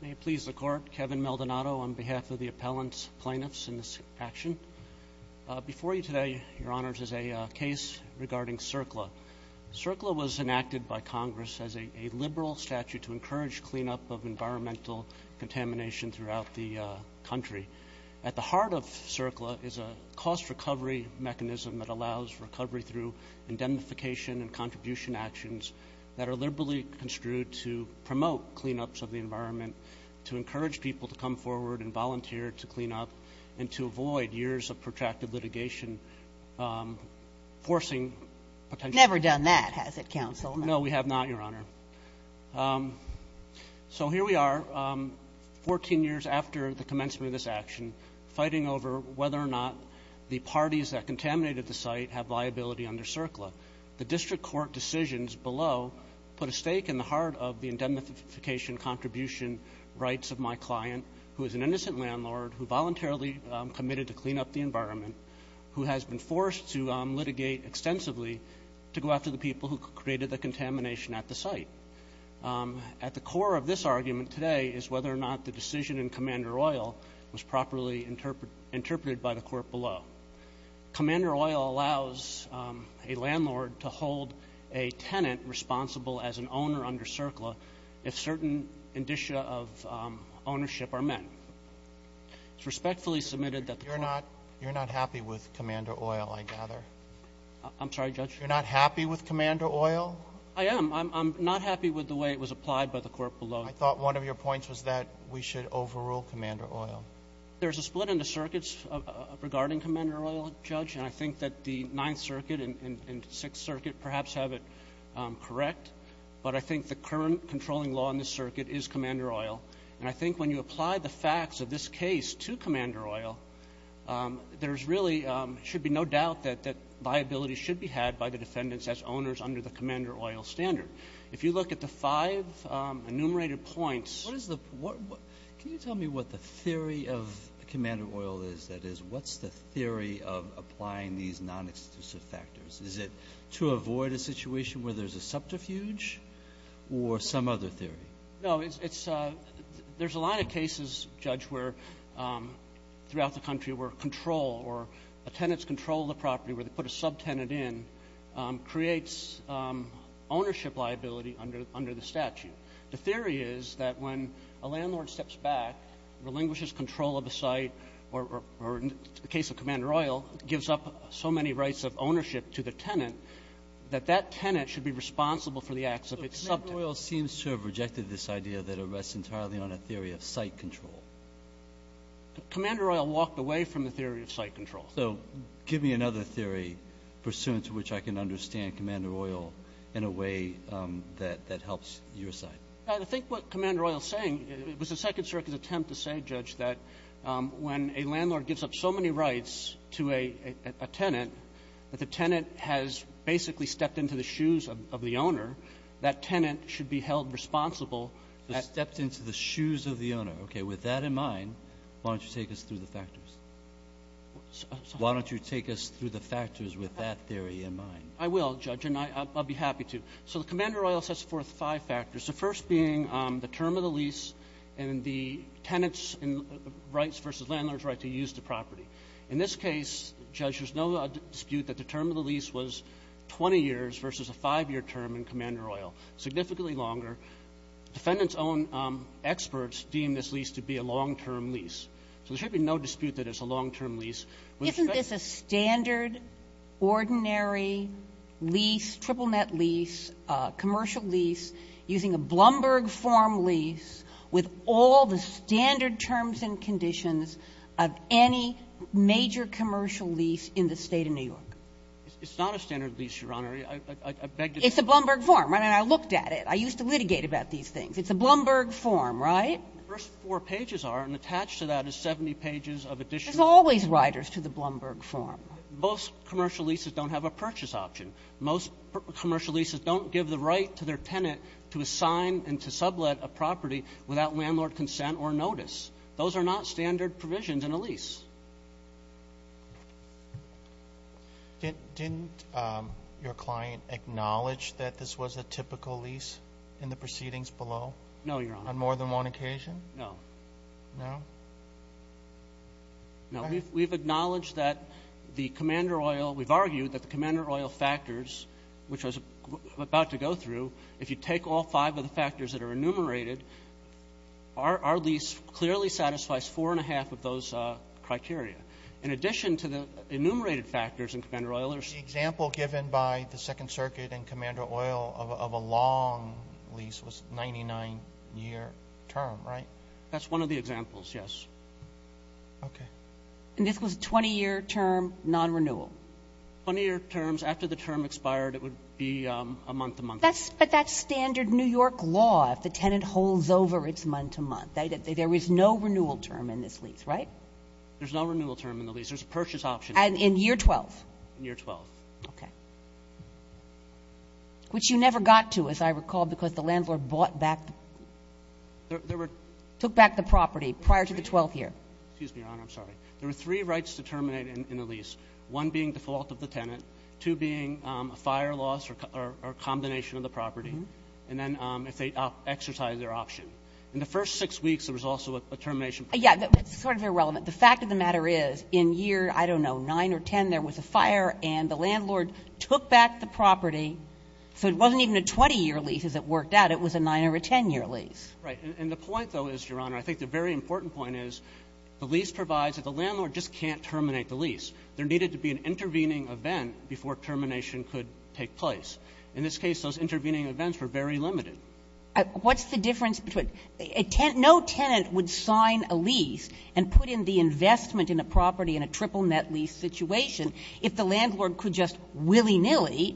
May it please the Court, Kevin Maldonado on behalf of the appellant's plaintiffs in this action. Before you today, Your Honors, is a case regarding CERCLA. CERCLA was enacted by Congress as a liberal statute to encourage cleanup of environmental contamination throughout the country. At the heart of CERCLA is a cost recovery mechanism that allows recovery through indemnification and contribution actions that are liberally construed to promote cleanups of the environment, to encourage people to come forward and volunteer to clean up, and to avoid years of protracted litigation forcing potential... Never done that, has it, Counsel? No, we have not, Your Honor. So here we are, 14 years after the commencement of this action, fighting over whether or not the parties that contaminated the site have liability under CERCLA. The district court decisions below put a stake in the heart of the indemnification contribution rights of my client, who is an innocent landlord who voluntarily committed to clean up the environment, who has been forced to litigate extensively to go after the people who created the contamination at the site. At the core of this argument today is whether or not the decision in Commander Oil was properly interpreted by the court below. Commander Oil allows a landlord to hold a tenant responsible as an owner under CERCLA if certain indicia of ownership are met. It's respectfully submitted that the court... You're not happy with Commander Oil, I gather. I'm sorry, Judge? You're not happy with Commander Oil? I am. I'm not happy with the way it was applied by the court below. I thought one of your points was that we should overrule Commander Oil. There's a split in the circuits regarding Commander Oil, Judge, and I think that the Ninth Circuit and Sixth Circuit perhaps have it correct, but I think the current controlling law in this circuit is Commander Oil. And I think when you apply the facts of this case to Commander Oil, there really should be no doubt that liability should be had by the defendants as owners under the Commander Oil standard. If you look at the five enumerated points... Can you tell me what the theory of Commander Oil is? That is, what's the theory of applying these non-exclusive factors? Is it to avoid a situation where there's a subterfuge or some other theory? No. There's a lot of cases, Judge, where throughout the country where control or a tenant's control of the property where they put a subtenant in creates ownership liability under the statute. The theory is that when a landlord steps back, relinquishes control of a site, or in the case of Commander Oil, gives up so many rights of ownership to the tenant, that that tenant should be responsible for the acts of its subtenant. So Commander Oil seems to have rejected this idea that it rests entirely on a theory of site control. Commander Oil walked away from the theory of site control. So give me another theory pursuant to which I can understand Commander Oil in a way that helps your side. I think what Commander Oil is saying, it was a Second Circuit's attempt to say, Judge, that when a landlord gives up so many rights to a tenant, that the tenant has basically stepped into the shoes of the owner. That tenant should be held responsible. Stepped into the shoes of the owner. Okay, with that in mind, why don't you take us through the factors? Why don't you take us through the factors with that theory in mind? I will, Judge, and I'll be happy to. So Commander Oil sets forth five factors, the first being the term of the lease and the tenant's rights versus landlord's right to use the property. In this case, Judge, there's no dispute that the term of the lease was 20 years versus a five-year term in Commander Oil, significantly longer. Defendant's own experts deem this lease to be a long-term lease. So there should be no dispute that it's a long-term lease. Isn't this a standard, ordinary lease, triple-net lease, commercial lease using a Blumberg form lease with all the standard terms and conditions of any major commercial lease in the State of New York? It's not a standard lease, Your Honor. I beg to differ. It's a Blumberg form, right? And I looked at it. I used to litigate about these things. It's a Blumberg form, right? The first four pages are, and attached to that is 70 pages of additional. There's always riders to the Blumberg form. Most commercial leases don't have a purchase option. Most commercial leases don't give the right to their tenant to assign and to sublet a property without landlord consent or notice. Those are not standard provisions in a lease. Didn't your client acknowledge that this was a typical lease in the proceedings below? No, Your Honor. On more than one occasion? No. No? No. We've acknowledged that the commander oil, we've argued that the commander oil factors, which I was about to go through, if you take all five of the factors that are enumerated, our lease clearly satisfies four and a half of those criteria. In addition to the enumerated factors in commander oil, there's the example given by the Second Circuit and commander oil of a long lease was 99-year term, right? That's one of the examples, yes. Okay. And this was a 20-year term non-renewal? 20-year terms. After the term expired, it would be a month, a month. But that's standard New York law. If the tenant holds over, it's month to month. There is no renewal term in this lease, right? There's no renewal term in the lease. There's a purchase option. And in year 12? In year 12. Okay. Which you never got to, as I recall, because the landlord bought back the property prior to the 12th year. Excuse me, Your Honor. I'm sorry. There were three rights to terminate in the lease, one being default of the tenant, two being a fire loss or combination of the property, and then if they exercise their option. In the first six weeks, there was also a termination. Yeah. It's sort of irrelevant. The fact of the matter is, in year, I don't know, 9 or 10, there was a fire and the landlord took back the property. So it wasn't even a 20-year lease as it worked out. It was a 9- or a 10-year lease. Right. And the point, though, is, Your Honor, I think the very important point is the lease provides that the landlord just can't terminate the lease. There needed to be an intervening event before termination could take place. In this case, those intervening events were very limited. What's the difference between no tenant would sign a lease and put in the investment in a property in a triple net lease situation if the landlord could just willy-nilly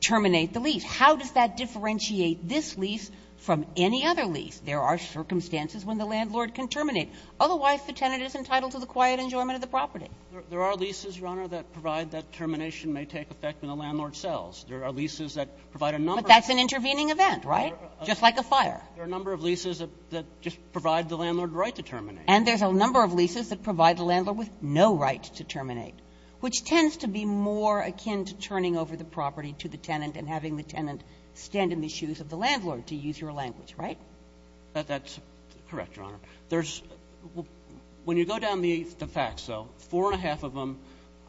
terminate the lease? How does that differentiate this lease from any other lease? There are circumstances when the landlord can terminate. Otherwise, the tenant is entitled to the quiet enjoyment of the property. There are leases, Your Honor, that provide that termination may take effect when the landlord sells. There are leases that provide a number of leases. But that's an intervening event, right? Just like a fire. There are a number of leases that just provide the landlord the right to terminate. And there's a number of leases that provide the landlord with no right to terminate, which tends to be more akin to turning over the property to the tenant and having the tenant stand in the shoes of the landlord to use your language, right? That's correct, Your Honor. When you go down the facts, though, four and a half of them,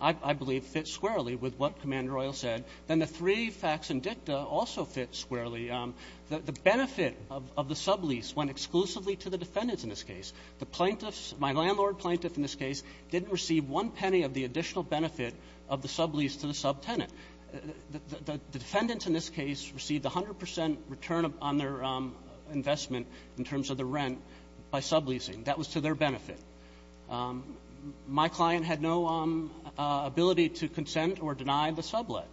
I believe, fit squarely with what Commander Royal said. Then the three facts in dicta also fit squarely. The benefit of the sublease went exclusively to the defendants in this case. The plaintiffs, my landlord plaintiff in this case, didn't receive one penny of the additional benefit of the sublease to the subtenant. The defendants in this case received 100 percent return on their investment in terms of the rent by subleasing. That was to their benefit. My client had no ability to consent or deny the sublet.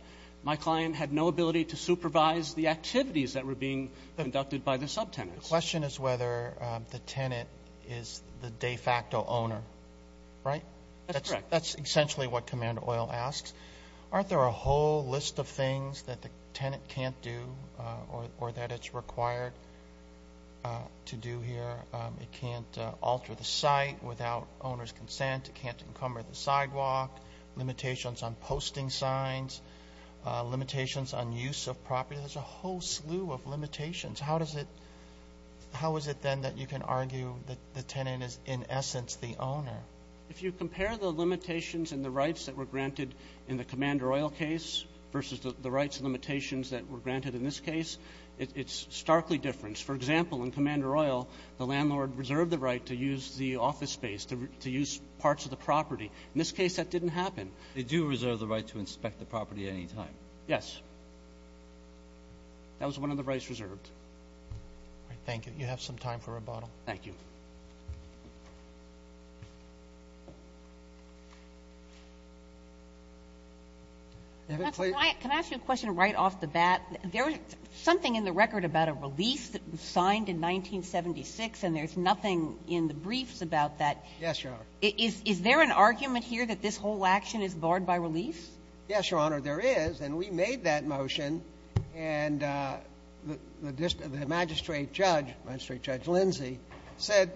My client had no ability to supervise the activities that were being conducted by the subtenants. The question is whether the tenant is the de facto owner, right? That's correct. That's essentially what Commander Royal asks. Aren't there a whole list of things that the tenant can't do or that it's required to do here? It can't alter the site without owner's consent. It can't encumber the sidewalk. Limitations on posting signs. Limitations on use of property. There's a whole slew of limitations. How is it then that you can argue that the tenant is, in essence, the owner? If you compare the limitations and the rights that were granted in the Commander Royal case versus the rights and limitations that were granted in this case, it's starkly different. For example, in Commander Royal, the landlord reserved the right to use the office space, to use parts of the property. In this case, that didn't happen. They do reserve the right to inspect the property at any time. Yes. That was one of the rights reserved. Thank you. You have some time for rebuttal. Thank you. Can I ask you a question right off the bat? There is something in the record about a release that was signed in 1976, and there's nothing in the briefs about that. Yes, Your Honor. Is there an argument here that this whole action is barred by release? Yes, Your Honor, there is. And we made that motion. And the magistrate judge, Magistrate Judge Lindsay, said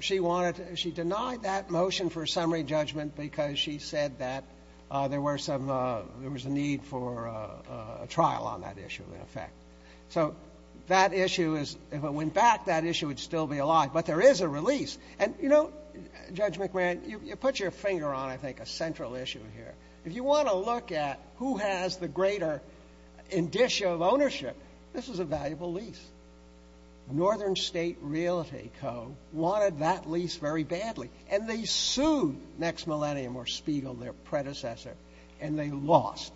she denied that motion for summary judgment because she said that there was a need for a trial on that issue, in effect. So that issue is, if it went back, that issue would still be alive. But there is a release. And, you know, Judge McMahon, you put your finger on, I think, a central issue here. If you want to look at who has the greater indicia of ownership, this is a valuable lease. Northern State Realty Co. wanted that lease very badly, and they sued Next Millennium or Spiegel, their predecessor, and they lost.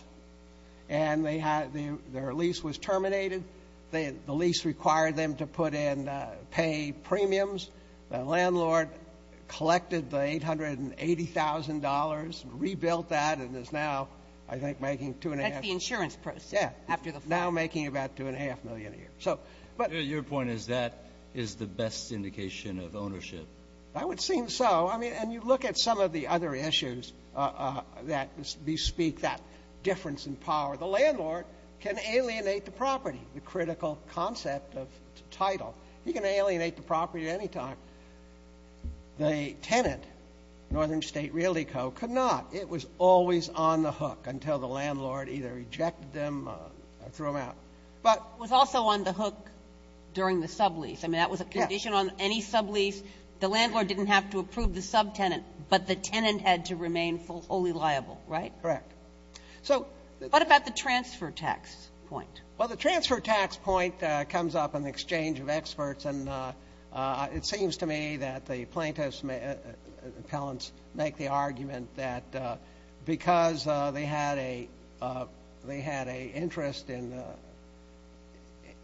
And their lease was terminated. The lease required them to put in pay premiums. The landlord collected the $880,000, rebuilt that, and is now, I think, making $2.5 million. That's the insurance process. Yeah. Now making about $2.5 million a year. Your point is that is the best indication of ownership. I would seem so. I mean, and you look at some of the other issues that bespeak that difference in power. The landlord can alienate the property, the critical concept of title. He can alienate the property at any time. The tenant, Northern State Realty Co., could not. It was always on the hook until the landlord either rejected them or threw them out. It was also on the hook during the sublease. I mean, that was a condition on any sublease. The landlord didn't have to approve the subtenant, but the tenant had to remain fully liable, right? Correct. What about the transfer tax point? Well, the transfer tax point comes up in the exchange of experts, and it seems to me that the plaintiffs' appellants make the argument that because they had an interest in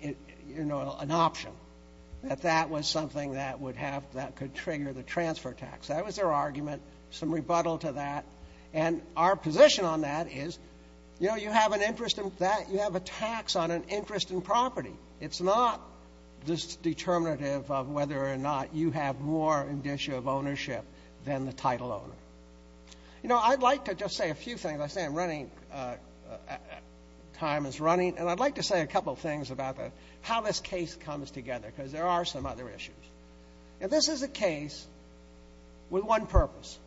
an option, that that was something that could trigger the transfer tax. That was their argument. Some rebuttal to that. And our position on that is, you know, you have an interest in that. You have a tax on an interest in property. It's not this determinative of whether or not you have more indicia of ownership than the title owner. You know, I'd like to just say a few things. I say I'm running, time is running, and I'd like to say a couple things about how this case comes together because there are some other issues. Now, this is a case with one purpose,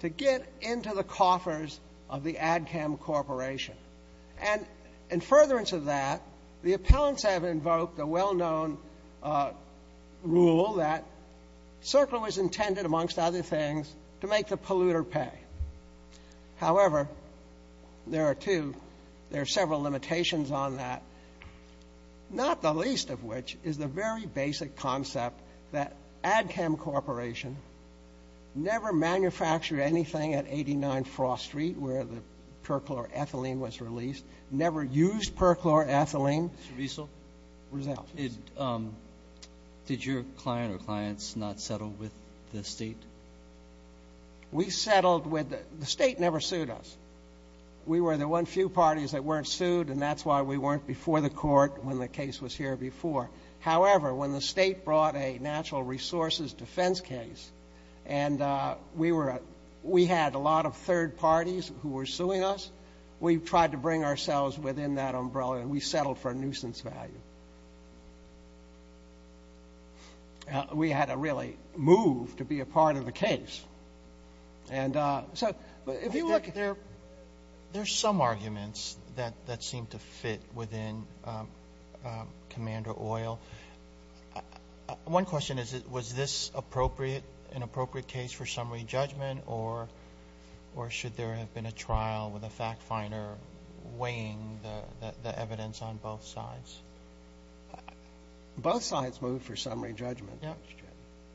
to get into the coffers of the ADCAM Corporation. And in furtherance of that, the appellants have invoked a well-known rule that CERCLA was intended, amongst other things, to make the polluter pay. However, there are two, there are several limitations on that, not the least of which is the very basic concept that ADCAM Corporation never manufactured anything at 89 Frost Street where the perchloroethylene was released, never used perchloroethylene. Mr. Riesel? Result. Did your client or clients not settle with the State? We settled with, the State never sued us. We were the one few parties that weren't sued, and that's why we weren't before the court when the case was here before. However, when the State brought a natural resources defense case and we were, we had a lot of third parties who were suing us. We tried to bring ourselves within that umbrella, and we settled for a nuisance value. We had to really move to be a part of the case. And so if you look at there, there's some arguments that seem to fit within Commander Oil. One question is, was this appropriate, an appropriate case for summary judgment, or should there have been a trial with a fact finder weighing the evidence on both sides? Both sides moved for summary judgment.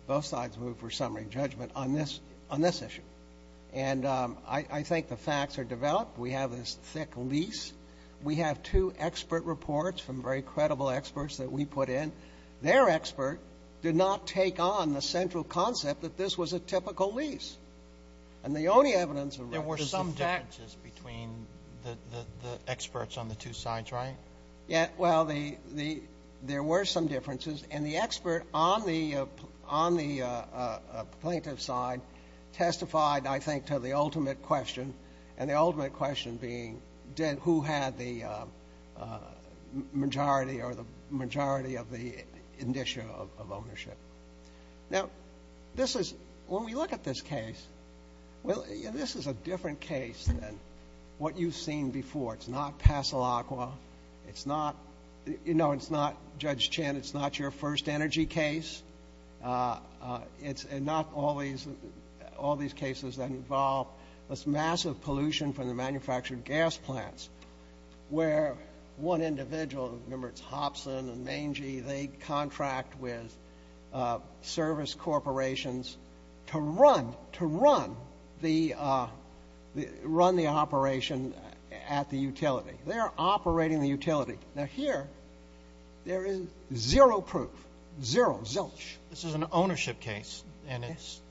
Both sides moved for summary judgment on this issue. And I think the facts are developed. We have this thick lease. We have two expert reports from very credible experts that we put in. Their expert did not take on the central concept that this was a typical lease. And the only evidence of that is the facts. There were some differences between the experts on the two sides, right? Yeah. Well, there were some differences. And the expert on the plaintiff's side testified, I think, to the ultimate question. And the ultimate question being who had the majority or the majority of the indicia of ownership. Now, this is, when we look at this case, this is a different case than what you've seen before. It's not Pasalacqua. It's not, you know, it's not Judge Chin. It's not your first energy case. It's not all these cases that involve this massive pollution from the manufactured gas plants where one individual, remember, it's Hobson and Mangy, they contract with service corporations to run the operation at the utility. They're operating the utility. Now, here, there is zero proof, zero, zilch. This is an ownership case. And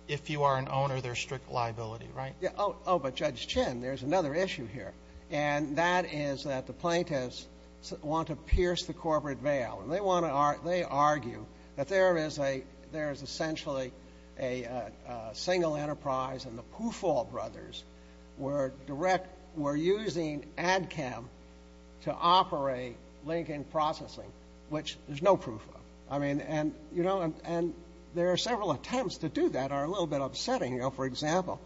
if you are an owner, there's strict liability, right? Yeah. Oh, but Judge Chin, there's another issue here. And that is that the plaintiffs want to pierce the corporate veil. And they want to argue, they argue that there is essentially a single enterprise and the Pufall brothers were direct, were using ADCAM to operate Lincoln Processing, which there's no proof of. I mean, and, you know, and there are several attempts to do that are a little bit upsetting. You know, for example,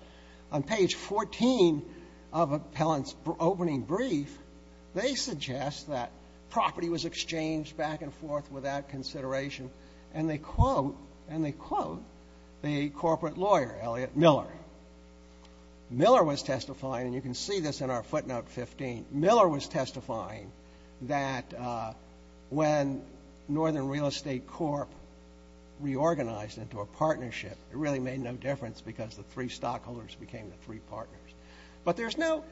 on page 14 of Appellant's opening brief, they suggest that property was exchanged back and forth without consideration. And they quote, and they quote the corporate lawyer, Elliot Miller. Miller was testifying, and you can see this in our footnote 15. Miller was testifying that when Northern Real Estate Corp reorganized into a partnership, it really made no difference because the three stockholders became the three partners. But there's no,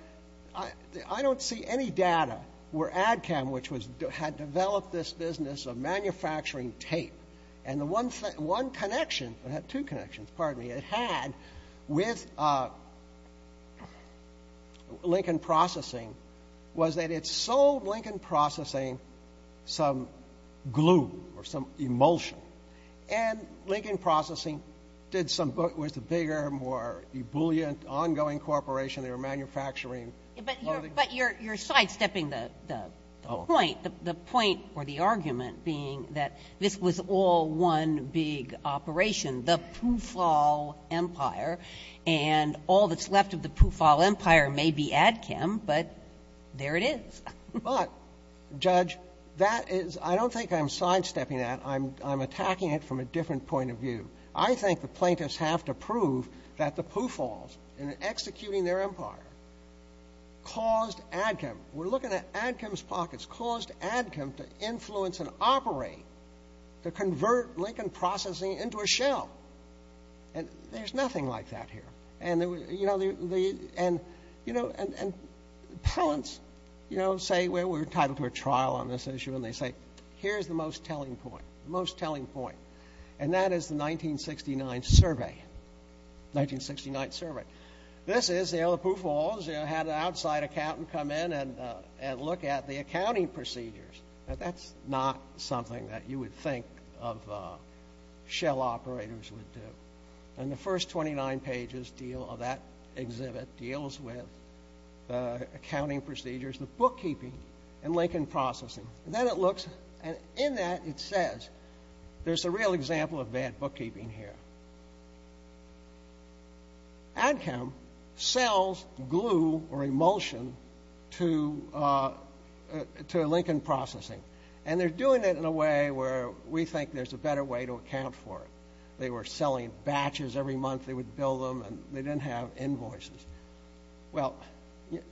I don't see any data where ADCAM, which had developed this business of manufacturing tape, and the one connection, it had two connections, pardon me, it had with Lincoln Processing was that it sold Lincoln Processing some glue or some emulsion. And Lincoln Processing did some, was a bigger, more ebullient, ongoing corporation. They were manufacturing. Kagan. But you're sidestepping the point. The point or the argument being that this was all one big operation, the Poofall Empire, and all that's left of the Poofall Empire may be ADCAM, but there it is. But, Judge, that is, I don't think I'm sidestepping that. I'm attacking it from a different point of view. I think the plaintiffs have to prove that the Poofalls, in executing their empire, caused ADCAM, we're looking at ADCAM's pockets, caused ADCAM to influence and operate to convert Lincoln Processing into a shell. And there's nothing like that here. And, you know, the, and, you know, and parents, you know, say, well, we're entitled to a trial on this issue. And they say, here's the most telling point, the most telling point. And that is the 1969 survey, 1969 survey. This is, you know, the Poofalls had an outside accountant come in and look at the accounting procedures. Now, that's not something that you would think of shell operators would do. And the first 29 pages deal, of that exhibit, deals with accounting procedures, the bookkeeping, and Lincoln Processing. And then it looks, and in that it says, there's a real example of bad bookkeeping here. ADCAM sells glue or emulsion to Lincoln Processing. And they're doing it in a way where we think there's a better way to account for it. They were selling batches every month. They would bill them, and they didn't have invoices. Well,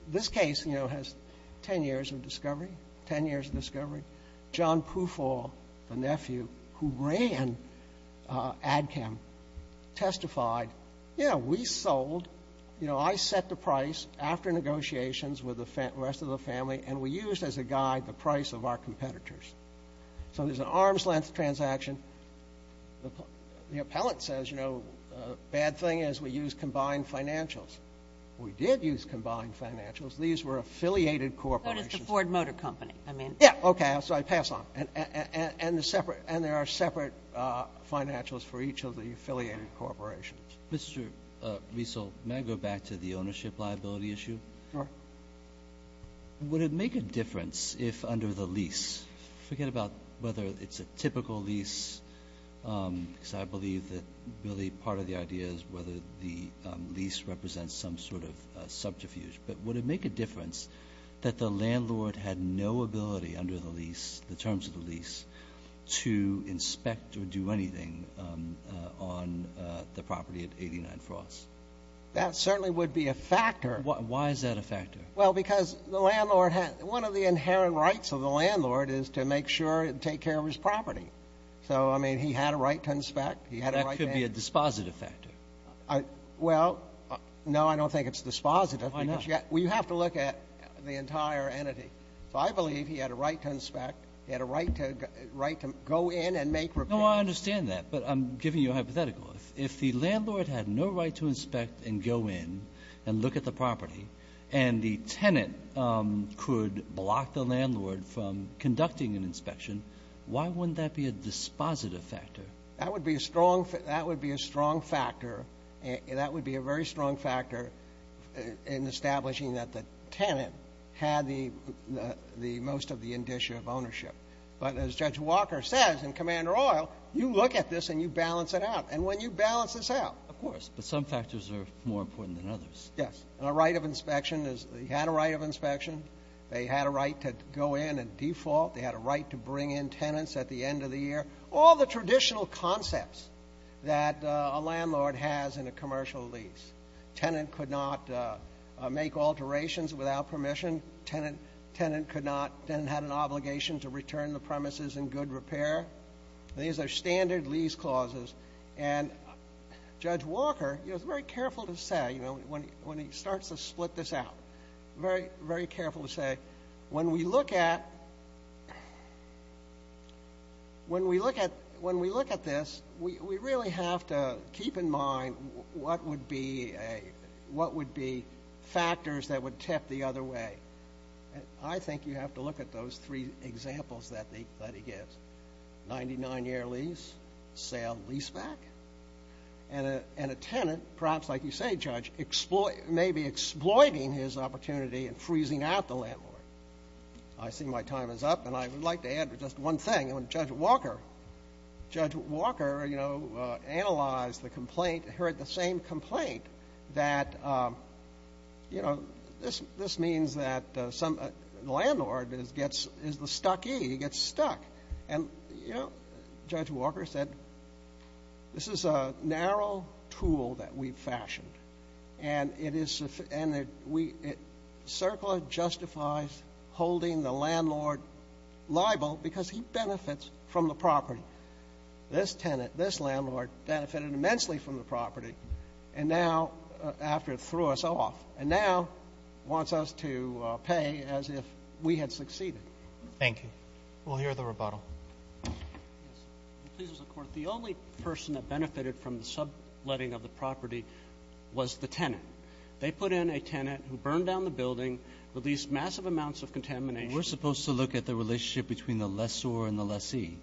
this case, you know, has 10 years of discovery, 10 years of discovery. John Poofall, the nephew who ran ADCAM, testified, you know, we sold, you know, I set the price after negotiations with the rest of the family, and we used as a guide the price of our competitors. So there's an arm's length transaction. The appellant says, you know, bad thing is we used combined financials. We did use combined financials. These were affiliated corporations. But it's the Ford Motor Company, I mean. Yeah, okay. So I pass on. And there are separate financials for each of the affiliated corporations. Mr. Riesel, may I go back to the ownership liability issue? Sure. Would it make a difference if under the lease, forget about whether it's a typical lease, because I believe that really part of the idea is whether the lease represents some sort of subterfuge, but would it make a difference that the landlord had no ability under the lease, the terms of the lease, to inspect or do anything on the property at 89 Frost? That certainly would be a factor. Why is that a factor? Well, because the landlord had one of the inherent rights of the landlord is to make sure and take care of his property. So, I mean, he had a right to inspect. He had a right to inspect. That could be a dispositive factor. Well, no, I don't think it's dispositive. Why not? Well, you have to look at the entire entity. So I believe he had a right to inspect. He had a right to go in and make repairs. No, I understand that, but I'm giving you a hypothetical. If the landlord had no right to inspect and go in and look at the property and the tenant could block the landlord from conducting an inspection, why wouldn't that be a dispositive factor? That would be a strong factor. That would be a very strong factor in establishing that the tenant had the most of the indicia of ownership. But as Judge Walker says in Commander Oil, you look at this and you balance it out. And when you balance this out. Of course, but some factors are more important than others. Yes, and a right of inspection is he had a right of inspection. They had a right to go in and default. They had a right to bring in tenants at the end of the year. All the traditional concepts that a landlord has in a commercial lease. Tenant could not make alterations without permission. Tenant could not. Tenant had an obligation to return the premises in good repair. These are standard lease clauses. And Judge Walker, he was very careful to say when he starts to split this out, very, very careful to say when we look at this, we really have to keep in mind what would be factors that would tip the other way. I think you have to look at those three examples that he gives. Ninety-nine-year lease, sale leaseback, and a tenant, perhaps like you say, Judge, maybe exploiting his opportunity and freezing out the landlord. I see my time is up, and I would like to add just one thing. On Judge Walker, Judge Walker, you know, analyzed the complaint, heard the same complaint that, you know, this means that the landlord is the stuckee. He gets stuck. And, you know, Judge Walker said, this is a narrow tool that we've fashioned, and it is the end that we — CERCLA justifies holding the landlord liable because he benefits from the property. This tenant, this landlord, benefited immensely from the property, and now, after it threw us off, and now wants us to pay as if we had succeeded. Thank you. We'll hear the rebuttal. Please, Mr. Court. The only person that benefited from the subletting of the property was the tenant. They put in a tenant who burned down the building, released massive amounts of contamination. We're supposed to look at the relationship between the lessor and the lessee.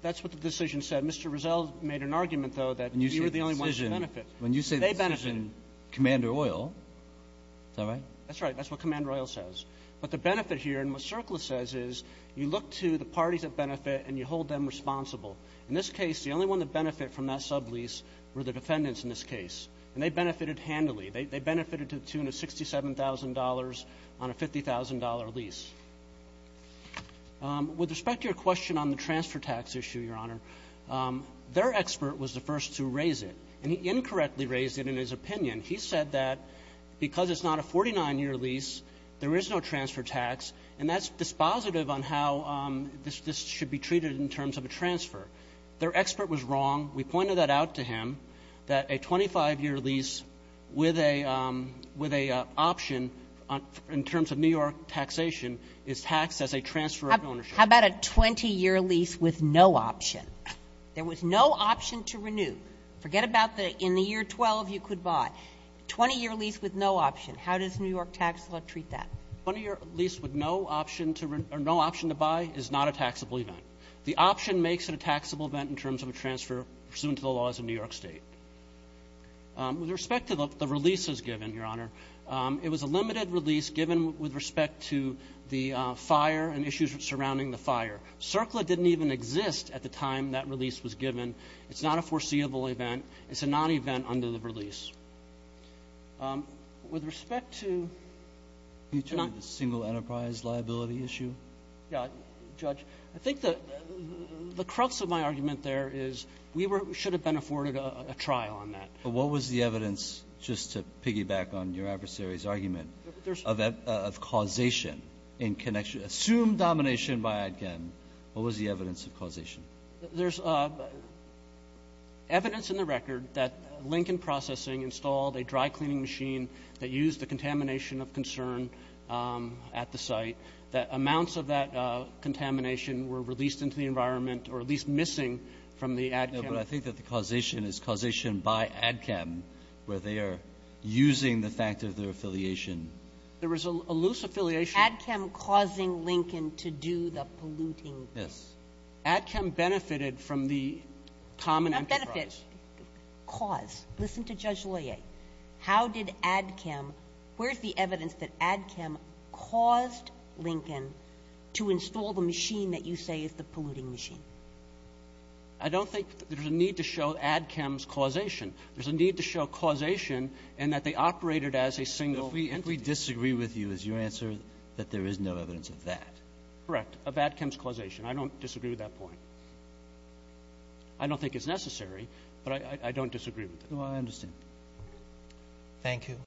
That's what the decision said. Mr. Rizzo made an argument, though, that you were the only one to benefit. When you say the decision, Commander Oil, is that right? That's right. That's what Commander Oil says. But the benefit here, and what CERCLA says, is you look to the parties that benefit, and you hold them responsible. In this case, the only one to benefit from that sublease were the defendants in this case, and they benefited handily. They benefited to the tune of $67,000 on a $50,000 lease. With respect to your question on the transfer tax issue, Your Honor, their expert was the first to raise it, and he incorrectly raised it in his opinion. He said that because it's not a 49-year lease, there is no transfer tax, and that's dispositive on how this should be treated in terms of a transfer. Their expert was wrong. We pointed that out to him, that a 25-year lease with an option in terms of New York taxation is taxed as a transfer of ownership. How about a 20-year lease with no option? There was no option to renew. Forget about the in the year 12 you could buy. A 20-year lease with no option, how does New York tax law treat that? A 20-year lease with no option to buy is not a taxable event. The option makes it a taxable event in terms of a transfer pursuant to the laws of New York State. With respect to the releases given, Your Honor, it was a limited release given with respect to the fire and issues surrounding the fire. CERCLA didn't even exist at the time that release was given. It's not a foreseeable event. It's a non-event under the release. With respect to the single enterprise liability issue. Yeah. Judge, I think the crux of my argument there is we should have been afforded a trial on that. But what was the evidence, just to piggyback on your adversary's argument, of causation in connection, assumed domination by Adkem? What was the evidence of causation? There's evidence in the record that Lincoln Processing installed a dry cleaning machine that used the contamination of concern at the site, that amounts of that contamination were released into the environment or at least missing from the Adkem. No, but I think that the causation is causation by Adkem where they are using the fact of their affiliation. There was a loose affiliation. Adkem causing Lincoln to do the polluting. Yes. Adkem benefited from the common enterprise. Not benefit. Cause. Listen to Judge Loyer. How did Adkem, where's the evidence that Adkem caused Lincoln to install the machine that you say is the polluting machine? I don't think there's a need to show Adkem's causation. There's a need to show causation in that they operated as a single entity. If we disagree with you, is your answer that there is no evidence of that? Correct, of Adkem's causation. I don't disagree with that point. I don't think it's necessary, but I don't disagree with it. I understand. Thank you.